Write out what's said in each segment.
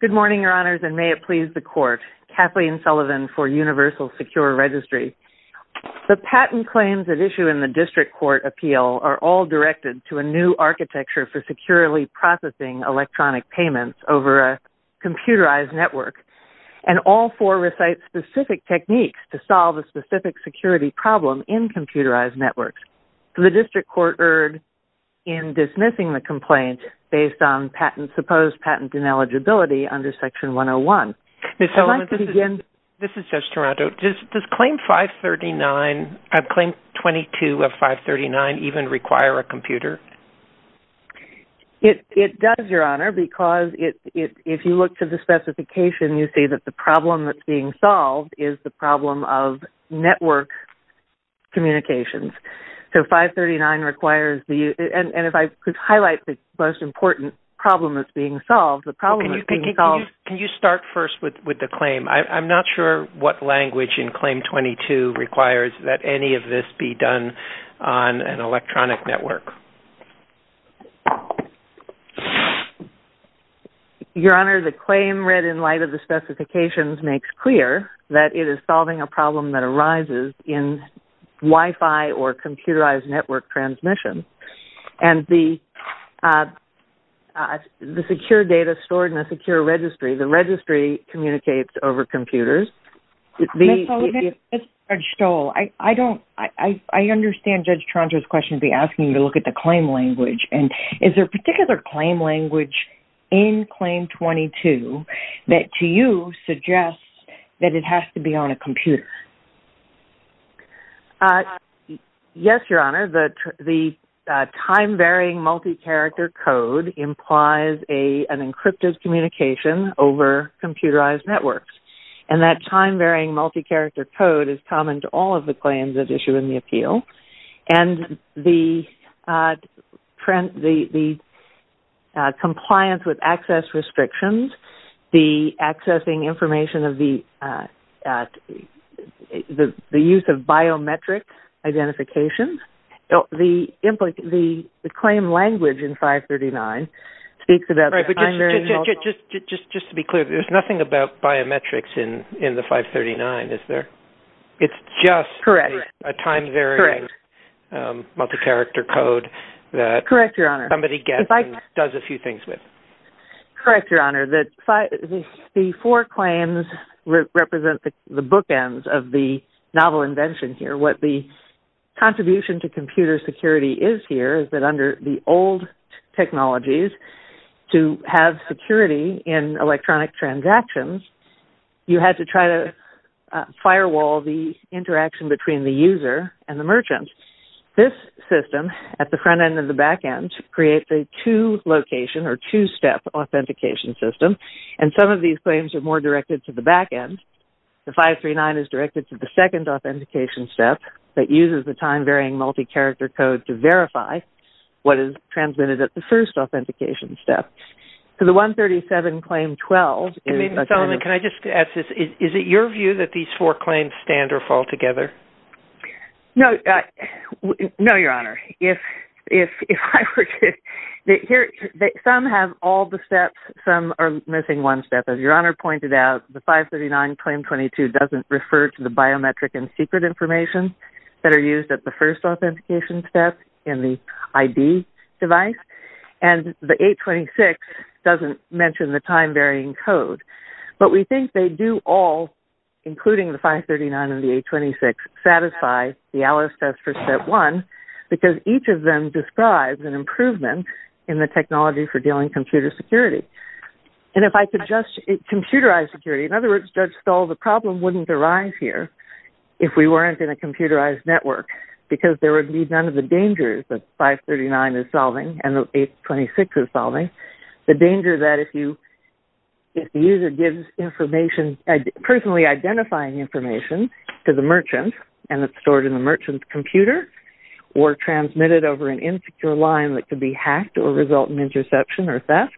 Good morning, your honors, and may it please the court. Kathleen Sullivan for Universal Secure Registry. The patent claims at issue in the district court appeal are all directed to a new architecture for securely processing electronic payments over a computerized network, and all four recite specific techniques to solve a specific security problem in computerized networks. The district court erred in dismissing the complaint based on patent supposed patent ineligibility under section 101. Ms. Sullivan, this is Judge Toronto. Does claim 539, claim 22 of 539 even require a computer? It does, your honor, because if you look to the specification, you see that the problem that's being solved is the problem of network communications. So 539 requires, and if I could highlight the most important problem that's being solved, the problem that's being solved- Can you start first with the claim? I'm not sure what language in claim 22 requires that any of this be done on an electronic network. Your honor, the claim read in light of the specifications makes clear that it is solving a problem that is stored in a secure registry. The registry communicates over computers. Ms. Sullivan, this is Judge Stoll. I understand Judge Toronto's question to be asking you to look at the claim language. Is there a particular claim language in claim 22 that to you suggests that it has to be on a computer? Yes, your honor. The time-varying multi-character code implies an encrypted communication over computerized networks. And that time-varying multi-character code is common to all of the claims that issue in the appeal. And the compliance with access restrictions, the accessing information of the use of biometric identification, the claim language in 539 speaks to that- Just to be clear, there's nothing about biometrics in the 539, is there? It's just a time-varying multi-character code that somebody gets and does a few things with. Correct, your honor. The four claims represent the bookends of the novel invention here. What the contribution to computer security is here is that under the old technologies, to have security in electronic transactions, you had to try to firewall the interaction between the user and the merchant. This system at the front end and the back end creates a two location or two-step authentication system. And some of these claims are more directed to the step that uses the time-varying multi-character code to verify what is transmitted at the first authentication step. So the 137 claim 12- Can I just ask this? Is it your view that these four claims stand or fall together? No, your honor. Some have all the steps, some are missing one step. As your honor pointed out, the 539 claim 22 doesn't refer to the biometric and secret information that are used at the first authentication step in the ID device. And the 826 doesn't mention the time-varying code. But we think they do all, including the 539 and the 826, satisfy the Alice test for step one, because each of them describes an improvement in the technology for dealing with computer security. And if I could just- computerized security. In other words, Judge Stull, the problem wouldn't arise here if we weren't in a computerized network, because there would be none of the dangers that 539 is solving and the 826 is solving. The danger that if you, if the user gives information, personally identifying information to the merchant and it's stored in the merchant's computer or transmitted over an insecure line that could be hacked or result in interception or theft.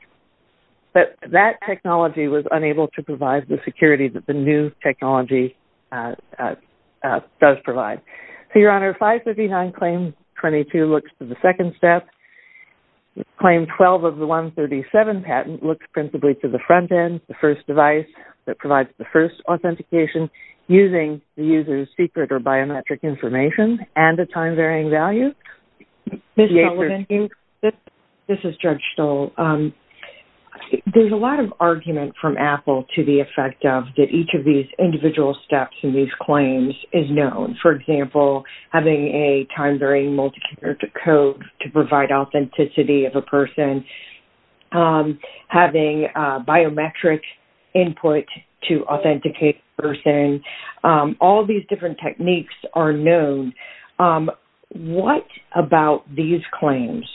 But that technology was unable to provide the security that the new technology does provide. So your honor, 539 claim 22 looks to the second step. Claim 12 of the 137 patent looks principally to the front end, the first device that provides the first authentication using the user's secret or biometric information and a time-varying value. Ms. Sullivan, this is Judge Stull. There's a lot of argument from Apple to the effect of that each of these individual steps in these claims is known. For example, having a time-varying multi-character code to provide authenticity of a person, having biometric input to authenticate a person, all of these different techniques are known. What about these claims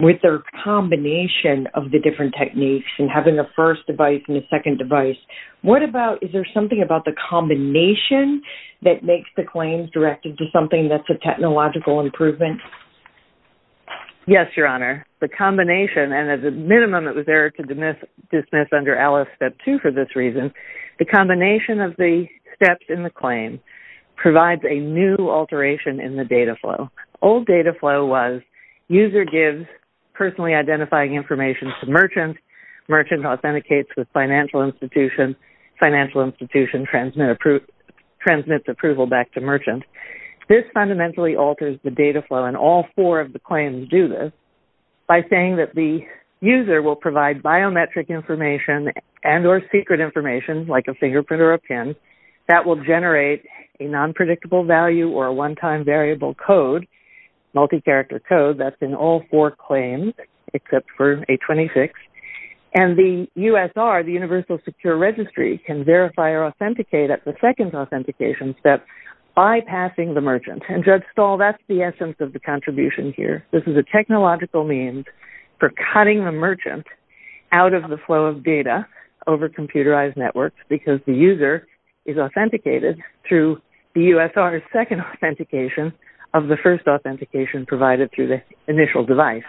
with their combination of the different techniques and having the first device and the second device? What about, is there something about the combination that makes the claims directed to something that's a technological improvement? Yes, your honor. The combination and as a minimum, it was there to dismiss under Alice step two for this reason, the combination of the steps in the claim provides a new alteration in the data flow. Old data flow was user gives personally identifying information to merchant, merchant authenticates with financial institution, financial institution transmits approval back to merchant. This fundamentally alters the data flow and all four of the claims do this by saying that the user will provide biometric information and or secret information like a fingerprint or a pin that will generate a non-predictable value or a one-time variable code, multi-character code that's in all four claims except for a 26. And the USR, the universal secure registry can verify or authenticate at the second authentication that bypassing the merchant and judge stall, that's the essence of the contribution here. This is a technological means for cutting the merchant out of the flow of data over computerized networks because the user is authenticated through the USR second authentication of the first authentication provided through the initial device.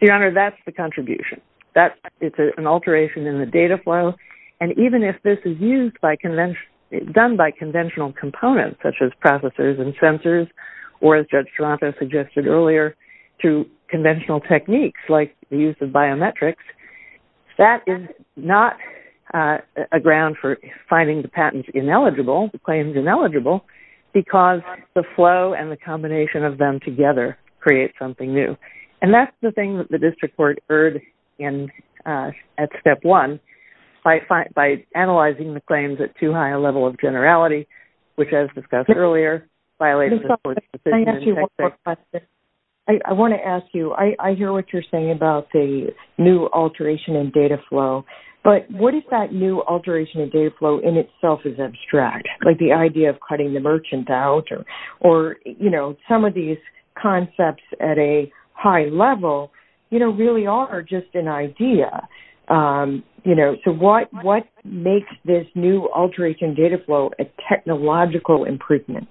Your honor, that's the contribution that it's an alteration in the data flow. And even if this is used by convention, done by conventional components such as processors and sensors, or as judge Strato suggested earlier to conventional techniques like the use of biometrics, that is not a ground for finding the patents ineligible, the claims ineligible because the flow and the combination of them together create something new. And that's the thing that the level of generality, which as discussed earlier, violates the court's decision. I want to ask you, I hear what you're saying about the new alteration in data flow, but what is that new alteration in data flow in itself is abstract, like the idea of cutting the merchant out or, you know, some of these concepts at a high level, you know, really are just an idea. You know, so what makes this new alteration data flow a technological improvement?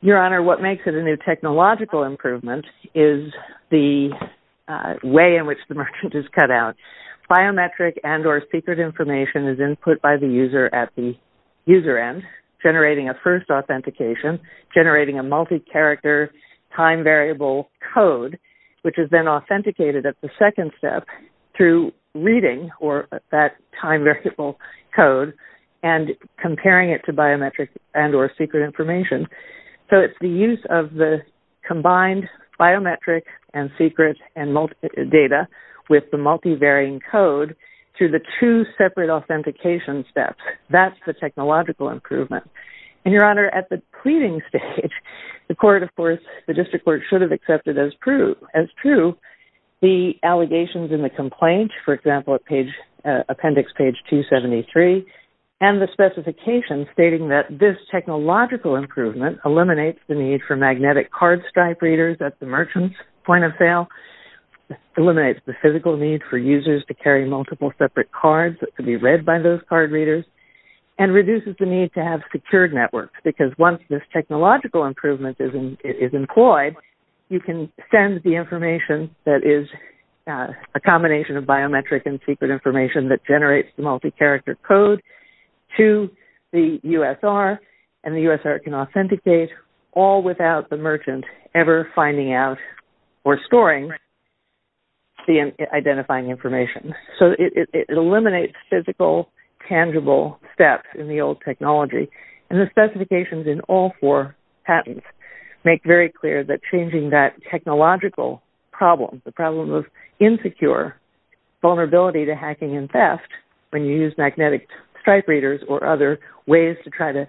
Your honor, what makes it a new technological improvement is the way in which the merchant is cut out. Biometric and or secret information is input by the user at the user end, generating a first authentication, generating a multi-character time variable code, which is then authenticated at the second step through reading or that time variable code and comparing it to biometric and or secret information. So it's the use of the combined biometric and secret and multi-data with the multivarying code through the two separate authentication steps. That's the technological improvement. And your honor, at the pleading stage, the court, of course, the district court should have accepted as true the allegations in the complaint, for example, at page, appendix page 273, and the specification stating that this technological improvement eliminates the need for magnetic card stripe readers at the merchant's point of sale, eliminates the physical need for users to carry multiple separate cards that could be read by those card readers, and reduces the need to have secured networks because once this technological improvement is employed, you can send the information that is a combination of biometric and secret information that generates the multi-character code to the USR, and the USR can authenticate all without the merchant ever finding out or storing the identifying information. So it eliminates physical, tangible steps in the old technology. And the specifications in all four patents make very clear that changing that technological problem, the problem of insecure vulnerability to hacking and theft, when you use magnetic stripe readers or other ways to try to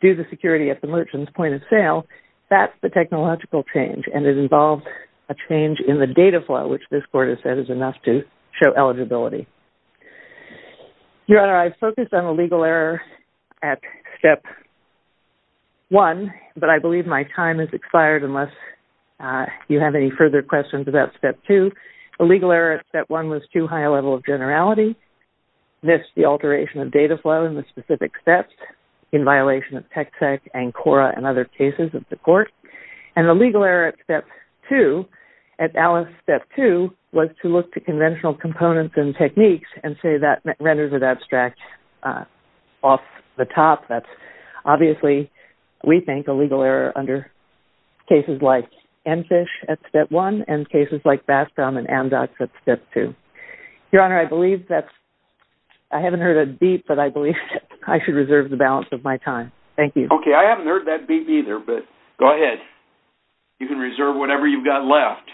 do the security at the merchant's point of sale, that's the technological change, and it involves a change in the data flow, which this court has said is enough to show eligibility. Your Honor, I've focused on a legal error at Step 1, but I believe my time has expired unless you have any further questions about Step 2. A legal error at Step 1 was too high a level of generality, missed the alteration of data flow in the specific steps, in violation of TEC-TEC, ANCORA, and other cases of the court. And the legal error at Step 2, at Alice Step 2, was to look to conventional components and techniques and say that renders it abstract off the top. That's obviously, we think, a legal error under cases like EnFish at Step 1 and cases like Bastrom and Amdocs at Step 2. Your Honor, I believe that's, I haven't heard a beep, but I believe I should reserve the balance of my time. Thank you. Okay, I haven't heard that beep either, but go ahead. You can reserve whatever you've got left.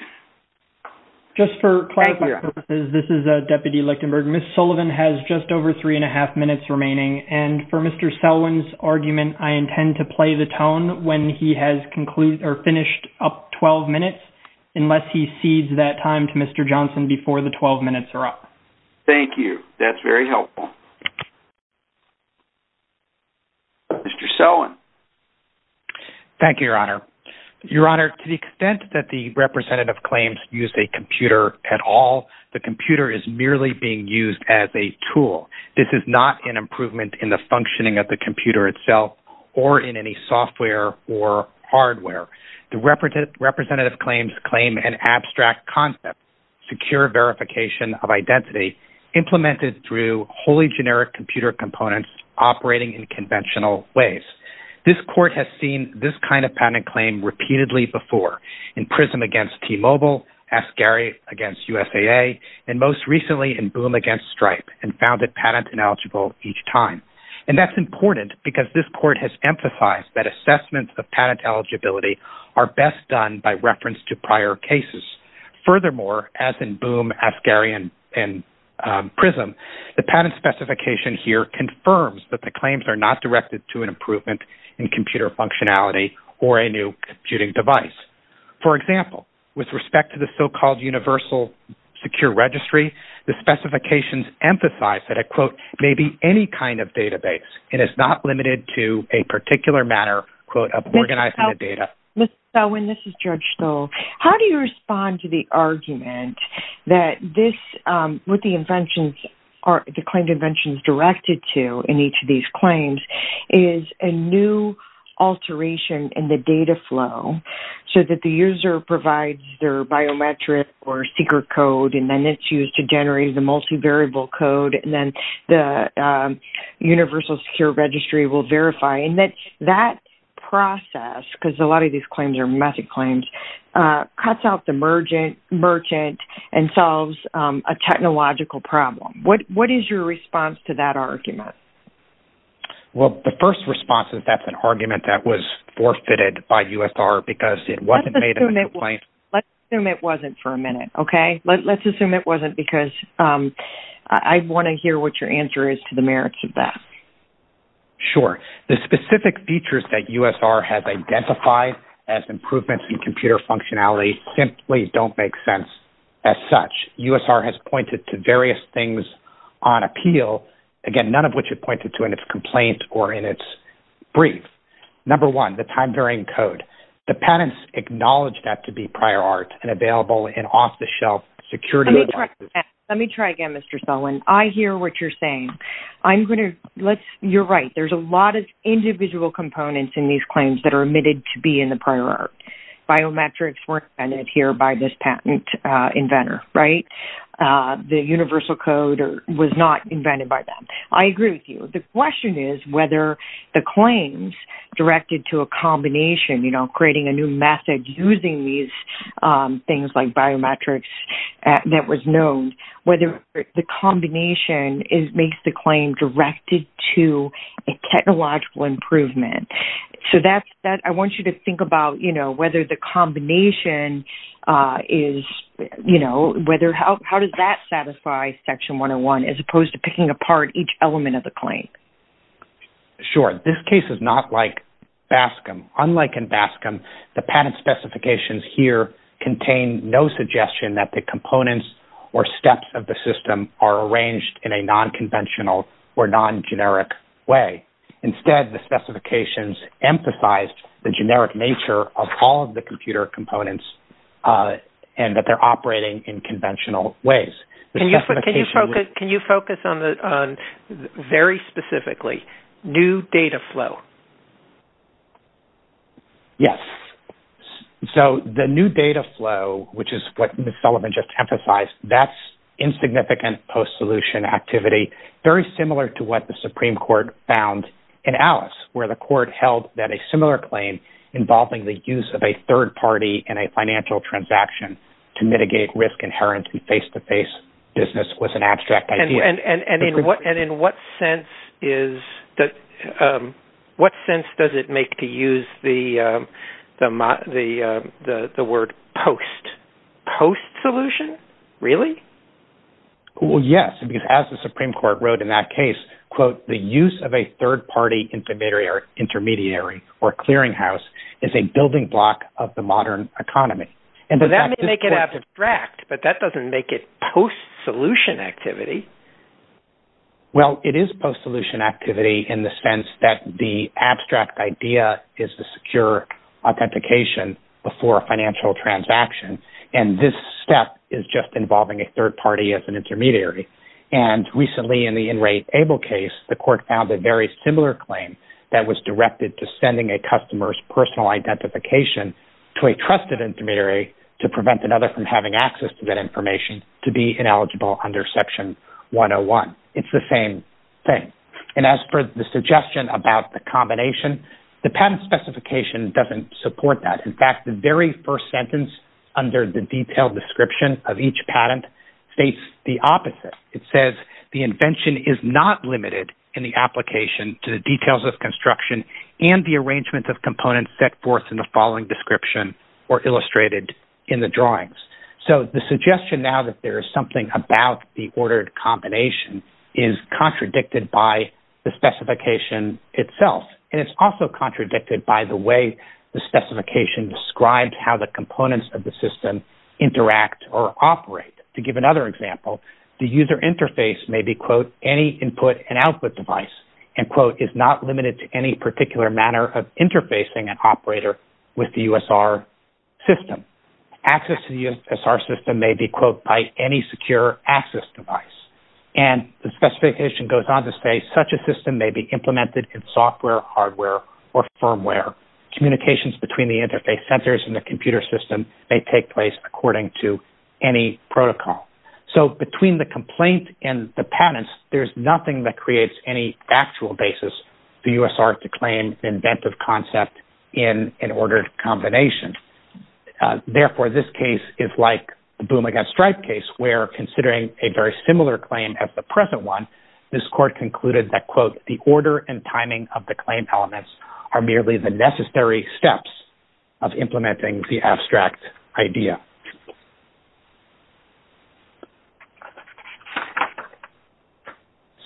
Just for class purposes, this is Deputy Lichtenberg. Ms. Sullivan has just over three and a half minutes remaining. And for Mr. Selwin's argument, I intend to play the tone when he has concluded or finished up 12 minutes, unless he cedes that time to Mr. Johnson before the 12 minutes are up. Thank you. That's very helpful. Mr. Selwin. Thank you, Your Honor. Your Honor, to the extent that the representative claims use a computer at all, the computer is merely being used as a tool. This is not an improvement in the functioning of the computer itself or in any software or hardware. The representative claims claim an abstract concept, secure verification of identity implemented through wholly generic computer components operating in in PRISM against T-Mobile, Ascari against USAA, and most recently in Boom against Stripe and found it patent ineligible each time. And that's important because this court has emphasized that assessments of patent eligibility are best done by reference to prior cases. Furthermore, as in Boom, Ascari, and PRISM, the patent specification here confirms that the claims are not directed to an functionality or a new computing device. For example, with respect to the so-called universal secure registry, the specifications emphasize that a quote, maybe any kind of database, it is not limited to a particular manner, quote, of organizing the data. Ms. Selwin, this is Judge Stoll. How do you respond to the argument that this, with the inventions or the claimed inventions directed to in each of these claims, is a new alteration in the data flow so that the user provides their biometric or secret code, and then it's used to generate the multivariable code, and then the universal secure registry will verify. And that process, because a lot of these claims are method claims, cuts out the merchant and solves a technological problem. What is your response to that argument? Well, the first response is that's an argument that was forfeited by USR because it wasn't made in the complaint. Let's assume it wasn't for a minute, okay? Let's assume it wasn't because I want to hear what your answer is to the merits of that. Sure. The specific features that USR has identified as improvements in computer functionality simply don't make sense as such. USR has pointed to various things on appeal, again, none of which it pointed to in its complaint or in its brief. Number one, the time-varying code. The patents acknowledge that to be prior art and available in off-the-shelf security devices. Let me try again, Mr. Selwin. I hear what you're saying. You're right. There's a lot of individual components in these claims that are admitted to be in the prior art. Biometrics weren't invented here by this patent inventor, right? The universal code was not invented by them. I agree with you. The question is whether the claims directed to a combination, you know, creating a new method using these things like biometrics that was known, whether the combination makes the claim directed to a technological improvement. So, I want you to think about whether the combination is, you know, how does that satisfy Section 101 as opposed to picking apart each element of the claim? Sure. This case is not like BASCM. Unlike in BASCM, the patent specifications here contain no suggestion that the components or steps of the system are arranged in a non-conventional or non-generic way. Instead, the specifications emphasize the generic nature of all of the computer components and that they're operating in conventional ways. Can you focus on very specifically new data flow? Yes. So, the new data flow, which is what Ms. Selwin just emphasized, that's insignificant post-solution activity, very similar to what the Supreme Court found in Alice, where the court held that a similar claim involving the use of a third party in a financial transaction to mitigate risk inherently face-to-face business was an abstract idea. And in what sense does it make to use the Yes, because as the Supreme Court wrote in that case, quote, the use of a third-party intermediary or clearinghouse is a building block of the modern economy. And that may make it abstract, but that doesn't make it post-solution activity. Well, it is post-solution activity in the sense that the abstract idea is to secure authentication before a financial transaction. And this step is just involving a third-party as an intermediary. And recently in the InRateAble case, the court found a very similar claim that was directed to sending a customer's personal identification to a trusted intermediary to prevent another from having access to that information to be ineligible under Section 101. It's the same thing. And as for the suggestion about the combination, the patent specification doesn't support that. In fact, the very first sentence under the detailed description of each patent states the opposite. It says the invention is not limited in the application to the details of construction and the arrangement of components set forth in the following description or illustrated in the drawings. So the suggestion now that there is something about the ordered combination is contradicted by the specification itself. And it's also contradicted by the way the specification describes how the components of the system interact or operate. To give another example, the user interface may be, quote, any input and output device and, quote, is not limited to any particular manner of interfacing an operator with the USR system. Access to the USR system may be, quote, by any secure access device. And the specification goes on to say such a system may be implemented in software, hardware, or firmware. Communications between the interface centers and the computer system may take place according to any protocol. So between the complaint and the patents, there's nothing that creates any actual basis for USR to the Boom Against Stripe case where considering a very similar claim as the present one, this court concluded that, quote, the order and timing of the claim elements are merely the necessary steps of implementing the abstract idea.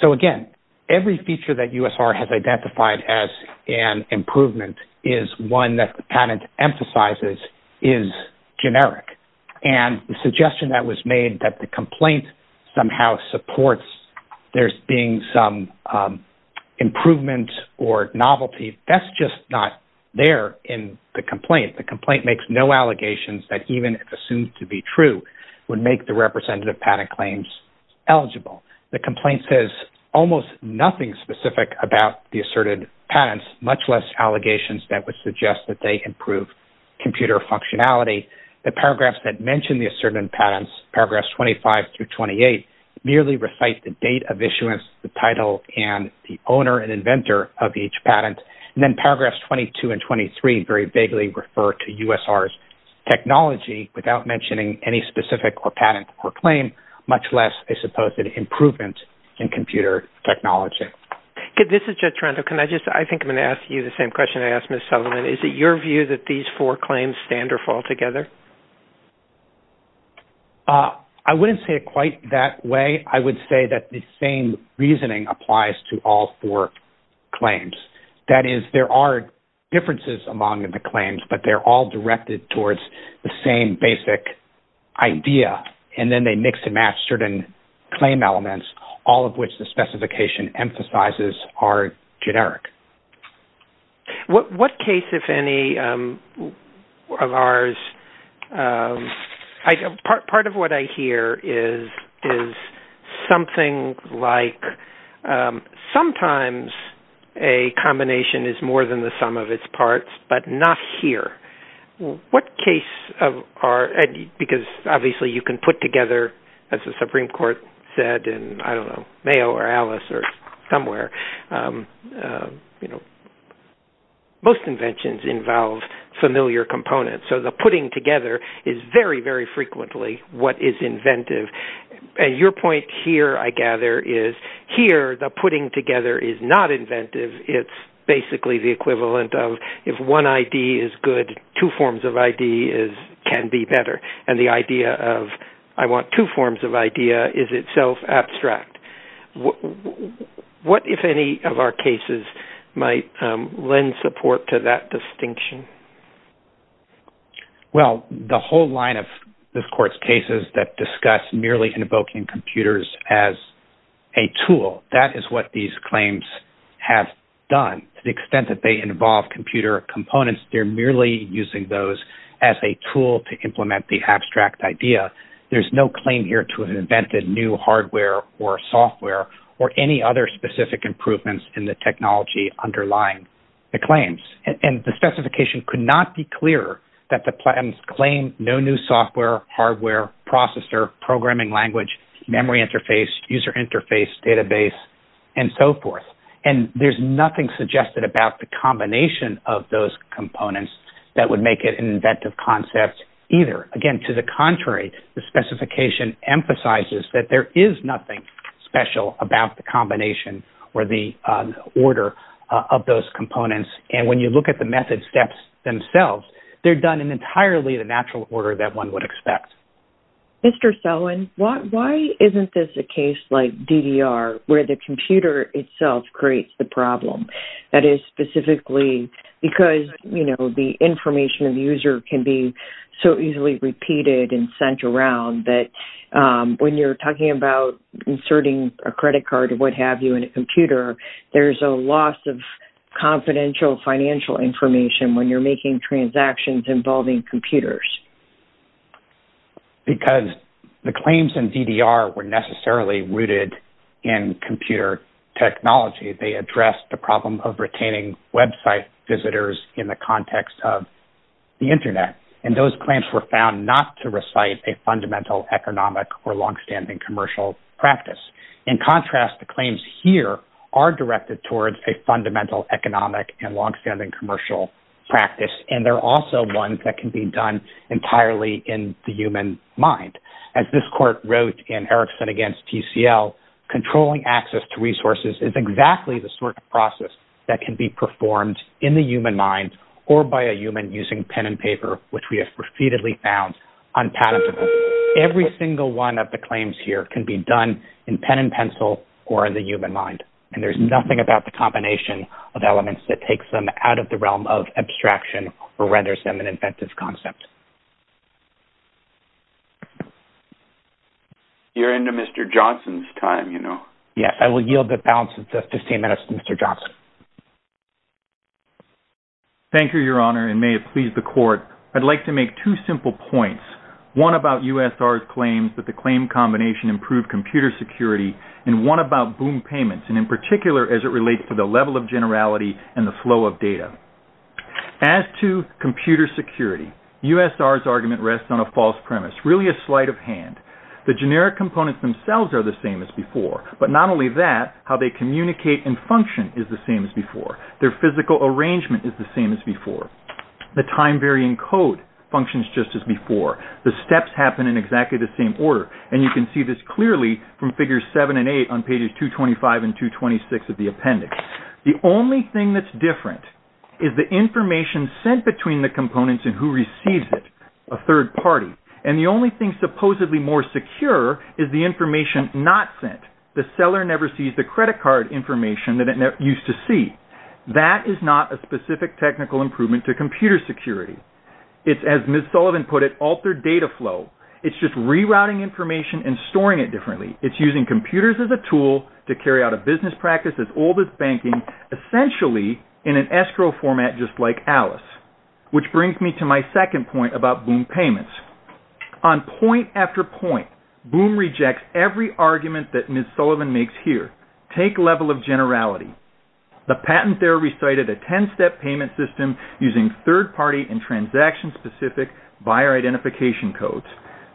So again, every feature that USR has identified as an improvement is one that the patent emphasizes is generic. And the suggestion that was made that the complaint somehow supports there being some improvement or novelty, that's just not there in the complaint. The complaint makes no allegations that even if assumed to be true would make the representative patent claims eligible. The complaint says almost nothing specific about the asserted patents, much less allegations that suggest that they improve computer functionality. The paragraphs that mention the asserted patents, paragraphs 25 through 28, merely recite the date of issuance, the title, and the owner and inventor of each patent. And then paragraphs 22 and 23 very vaguely refer to USR's technology without mentioning any specific patent or claim, much less a supposed improvement in computer technology. This is Judge Toronto. I think I'm going to ask you the same question I asked Ms. Sutherland. Is it your view that these four claims stand or fall together? I wouldn't say it quite that way. I would say that the same reasoning applies to all four claims. That is, there are differences among the claims, but they're all directed towards the same basic idea. And then they mix and match certain claim elements, all of which the specification emphasizes are generic. What case, if any, of ours... Part of what I hear is something like, sometimes a combination is more than the sum of its parts, but not here. What case of our... Because obviously you can put together, as the Supreme Court said in, I don't know, Mayo or Alice or somewhere, most inventions involve familiar components. So the putting together is very, very frequently what is inventive. And your point here, I gather, is here the putting together is not inventive. It's basically the equivalent of if one ID is good, two forms of ID can be better. And the idea of I want two forms of idea is itself abstract. What, if any, of our cases might lend support to that distinction? Well, the whole line of this Court's cases that discuss merely invoking computers as a tool, that is what these claims have done. To the extent that they involve computer components, they're merely using those as a tool to implement the abstract idea. There's no claim here to an invented new hardware or software or any other specific improvements in the technology underlying the claims. And the specification could not be clearer that the claims claim no new software, hardware, processor, programming language, memory interface, user interface, database, and so forth. And there's nothing suggested about the combination of those components that would make it an inventive concept either. Again, to the contrary, the specification emphasizes that there is nothing special about the combination or the order of those components. And when you look at the method steps themselves, they're done in entirely the natural order that one would expect. Mr. Selwin, why isn't this a case like DDR where the computer itself creates the problem? That is specifically because, you know, the information of the user can be so easily repeated and sent around that when you're talking about inserting a credit card or what have you in a computer, there's a loss of confidential financial information when you're doing transactions involving computers. Because the claims in DDR were necessarily rooted in computer technology. They addressed the problem of retaining website visitors in the context of the internet. And those claims were found not to recite a fundamental economic or longstanding commercial practice. In contrast, the claims here are directed towards a fundamental economic and they're also ones that can be done entirely in the human mind. As this court wrote in Erickson against TCL, controlling access to resources is exactly the sort of process that can be performed in the human mind or by a human using pen and paper, which we have repeatedly found unpalatable. Every single one of the claims here can be done in pen and pencil or in the human mind. And there's nothing about the combination of elements that takes them out of the realm of renders them an inventive concept. You're into Mr. Johnson's time, you know. Yes, I will yield the balance of justice to Mr. Johnson. Thank you, Your Honor, and may it please the court. I'd like to make two simple points. One about USR's claims that the claim combination improved computer security, and one about boom payments, and in particular, as it relates to the level of generality and the flow of data. As to computer security, USR's argument rests on a false premise, really a sleight of hand. The generic components themselves are the same as before, but not only that, how they communicate and function is the same as before. Their physical arrangement is the same as before. The time varying code functions just as before. The steps happen in exactly the same order, and you can see this clearly from figures seven and eight on pages 225 and 226 of the appendix. The only thing that's different is the information sent between the components and who receives it, a third party. And the only thing supposedly more secure is the information not sent. The seller never sees the credit card information that it used to see. That is not a specific technical improvement to computer security. It's, as Ms. Sullivan put it, altered data flow. It's just rerouting information and storing it differently. It's using computers as a tool to carry out a business practice as old as banking, essentially in an escrow format just like Alice, which brings me to my second point about boom payments. On point after point, boom rejects every argument that Ms. Sullivan makes here. Take level of generality. The patent there recited a 10-step payment system using third-party and transaction-specific buyer identification codes.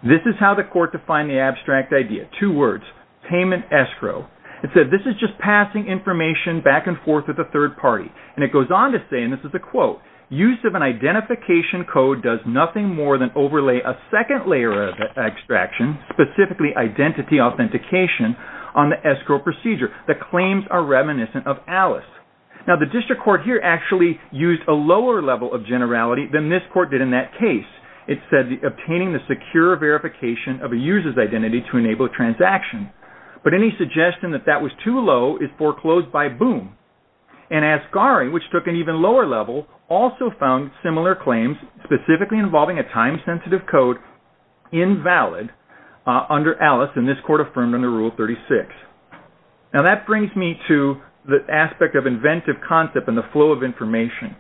This is how the court defined the abstract idea, two words, payment escrow. It said this is just passing information back and forth with a third party. And it goes on to say, and this is a quote, use of an identification code does nothing more than overlay a second layer of extraction, specifically identity authentication, on the escrow procedure. The claims are reminiscent of Alice. Now the district court here actually used a lower level of generality than this court did in that case. It said obtaining the secure verification of a user's identity to enable transaction. But any suggestion that that was too low is foreclosed by boom. And Asgari, which took an even lower level, also found similar claims specifically involving a time-sensitive code invalid under Alice and this court affirmed under Rule 36. Now that brings me to the aspect of inventive concept and the flow of information.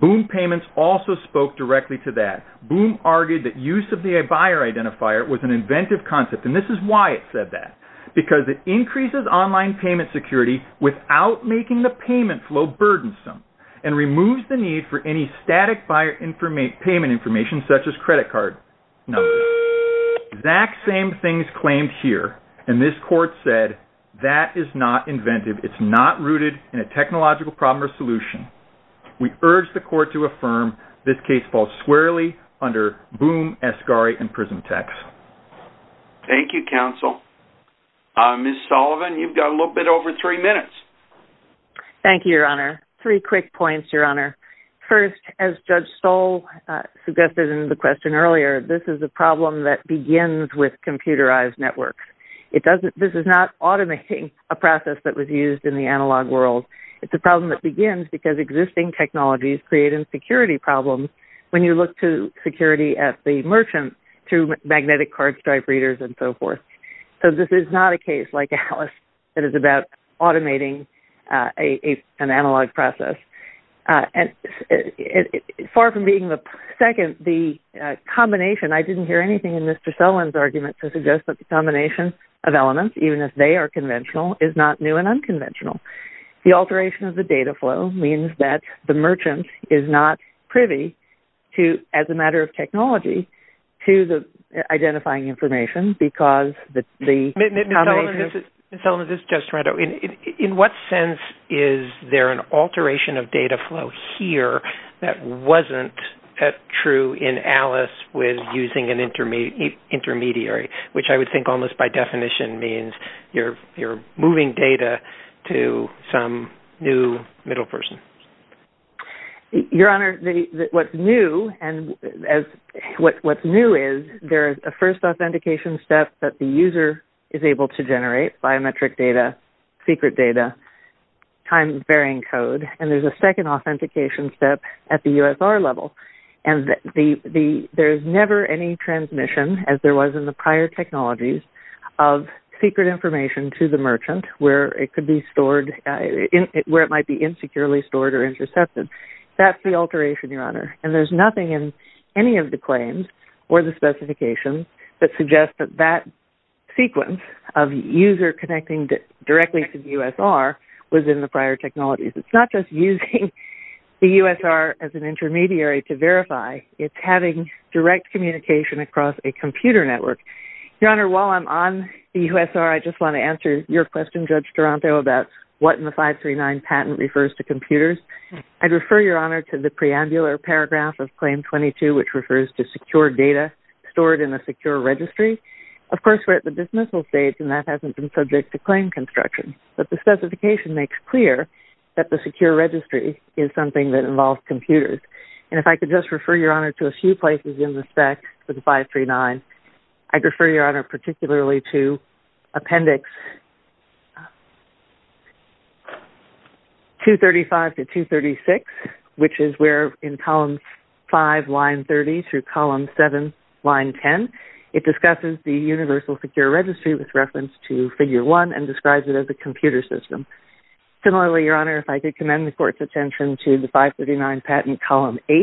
Boom payments also spoke directly to that. Boom argued that use of the buyer identifier was an inventive concept and this is why it said that. Because it increases online payment security without making the payment flow burdensome and removes the need for any static buyer information, payment information, such as credit card numbers. Exact same things claimed here and this court said that is not inventive. It's not rooted in a technological problem or solution. We urge the court to affirm this case falls squarely under boom, Asgari, and PrismTex. Thank you, counsel. Ms. Sullivan, you've got a little bit over three minutes. Thank you, your honor. Three quick points, your honor. First, as Judge Stoll suggested in the question earlier, this is a problem that begins with computerized networks. This is not automating a process that was used in the analog world. It's a problem that begins because existing technologies create insecurity problems when you look to security at the merchant through magnetic cardstripe readers and so forth. So this is not a case like Alice that is about automating an analog process. Far from being the second, the combination, I didn't hear anything in Mr. Sullivan. The combination of elements, even if they are conventional, is not new and unconventional. The alteration of the data flow means that the merchant is not privy to, as a matter of technology, to the identifying information because the... Ms. Sullivan, this is Judge Toronto. In what sense is there an alteration of data flow here that wasn't true in Alice with using an intermediary, which I would think almost by definition means you're moving data to some new middle person? Your honor, what's new is there's a first authentication step that the user is able to generate biometric data, secret data, time-varying code, and there's a second authentication step at the USR level, and there's never any transmission, as there was in the prior technologies, of secret information to the merchant where it could be stored, where it might be insecurely stored or intercepted. That's the alteration, your honor, and there's nothing in any of the claims or the specifications that suggest that that sequence of user connecting directly to the USR was in the prior technologies. It's not just using the USR as an intermediary to verify. It's having direct communication across a computer network. Your honor, while I'm on the USR, I just want to answer your question, Judge Toronto, about what in the 539 patent refers to computers. I'd refer your honor to the preambular paragraph of Claim 22, which refers to secure data stored in a secure registry. Of course, we're at the dismissal stage, and that hasn't been subject to claim construction, but the specification makes clear that the secure registry is something that involves computers, and if I could just refer your honor to a few places in the spec for the 539, I'd refer your honor particularly to appendix 235 to 236, which is where in column 5, line 30, through column 7, line 10, it discusses the computer system. Similarly, your honor, if I could commend the court's attention to the 539 patent column 8,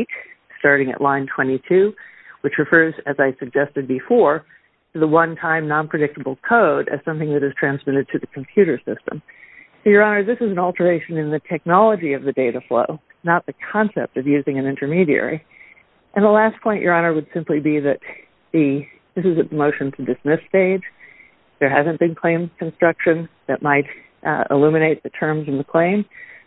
starting at line 22, which refers, as I suggested before, to the one-time non-predictable code as something that is transmitted to the computer system. Your honor, this is an alteration in the technology of the data flow, not the concept of using an intermediary. And the last point, your honor, would simply be that this is at the motion to dismiss stage. There hasn't been claim construction that might illuminate the terms in the claim.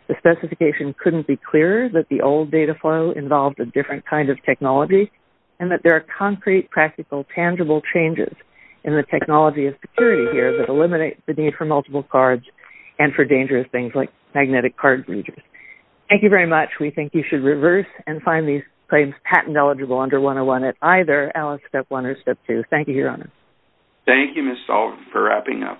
The specification couldn't be clearer that the old data flow involved a different kind of technology, and that there are concrete, practical, tangible changes in the technology of security here that eliminate the need for multiple cards and for dangerous things like magnetic card breaches. Thank you very much. We think you should reverse and find these claims patent-eligible under 101 at either Alice Step 1 or Step 2. Thank you, your honor. Thank you, Ms. Sullivan, for wrapping up.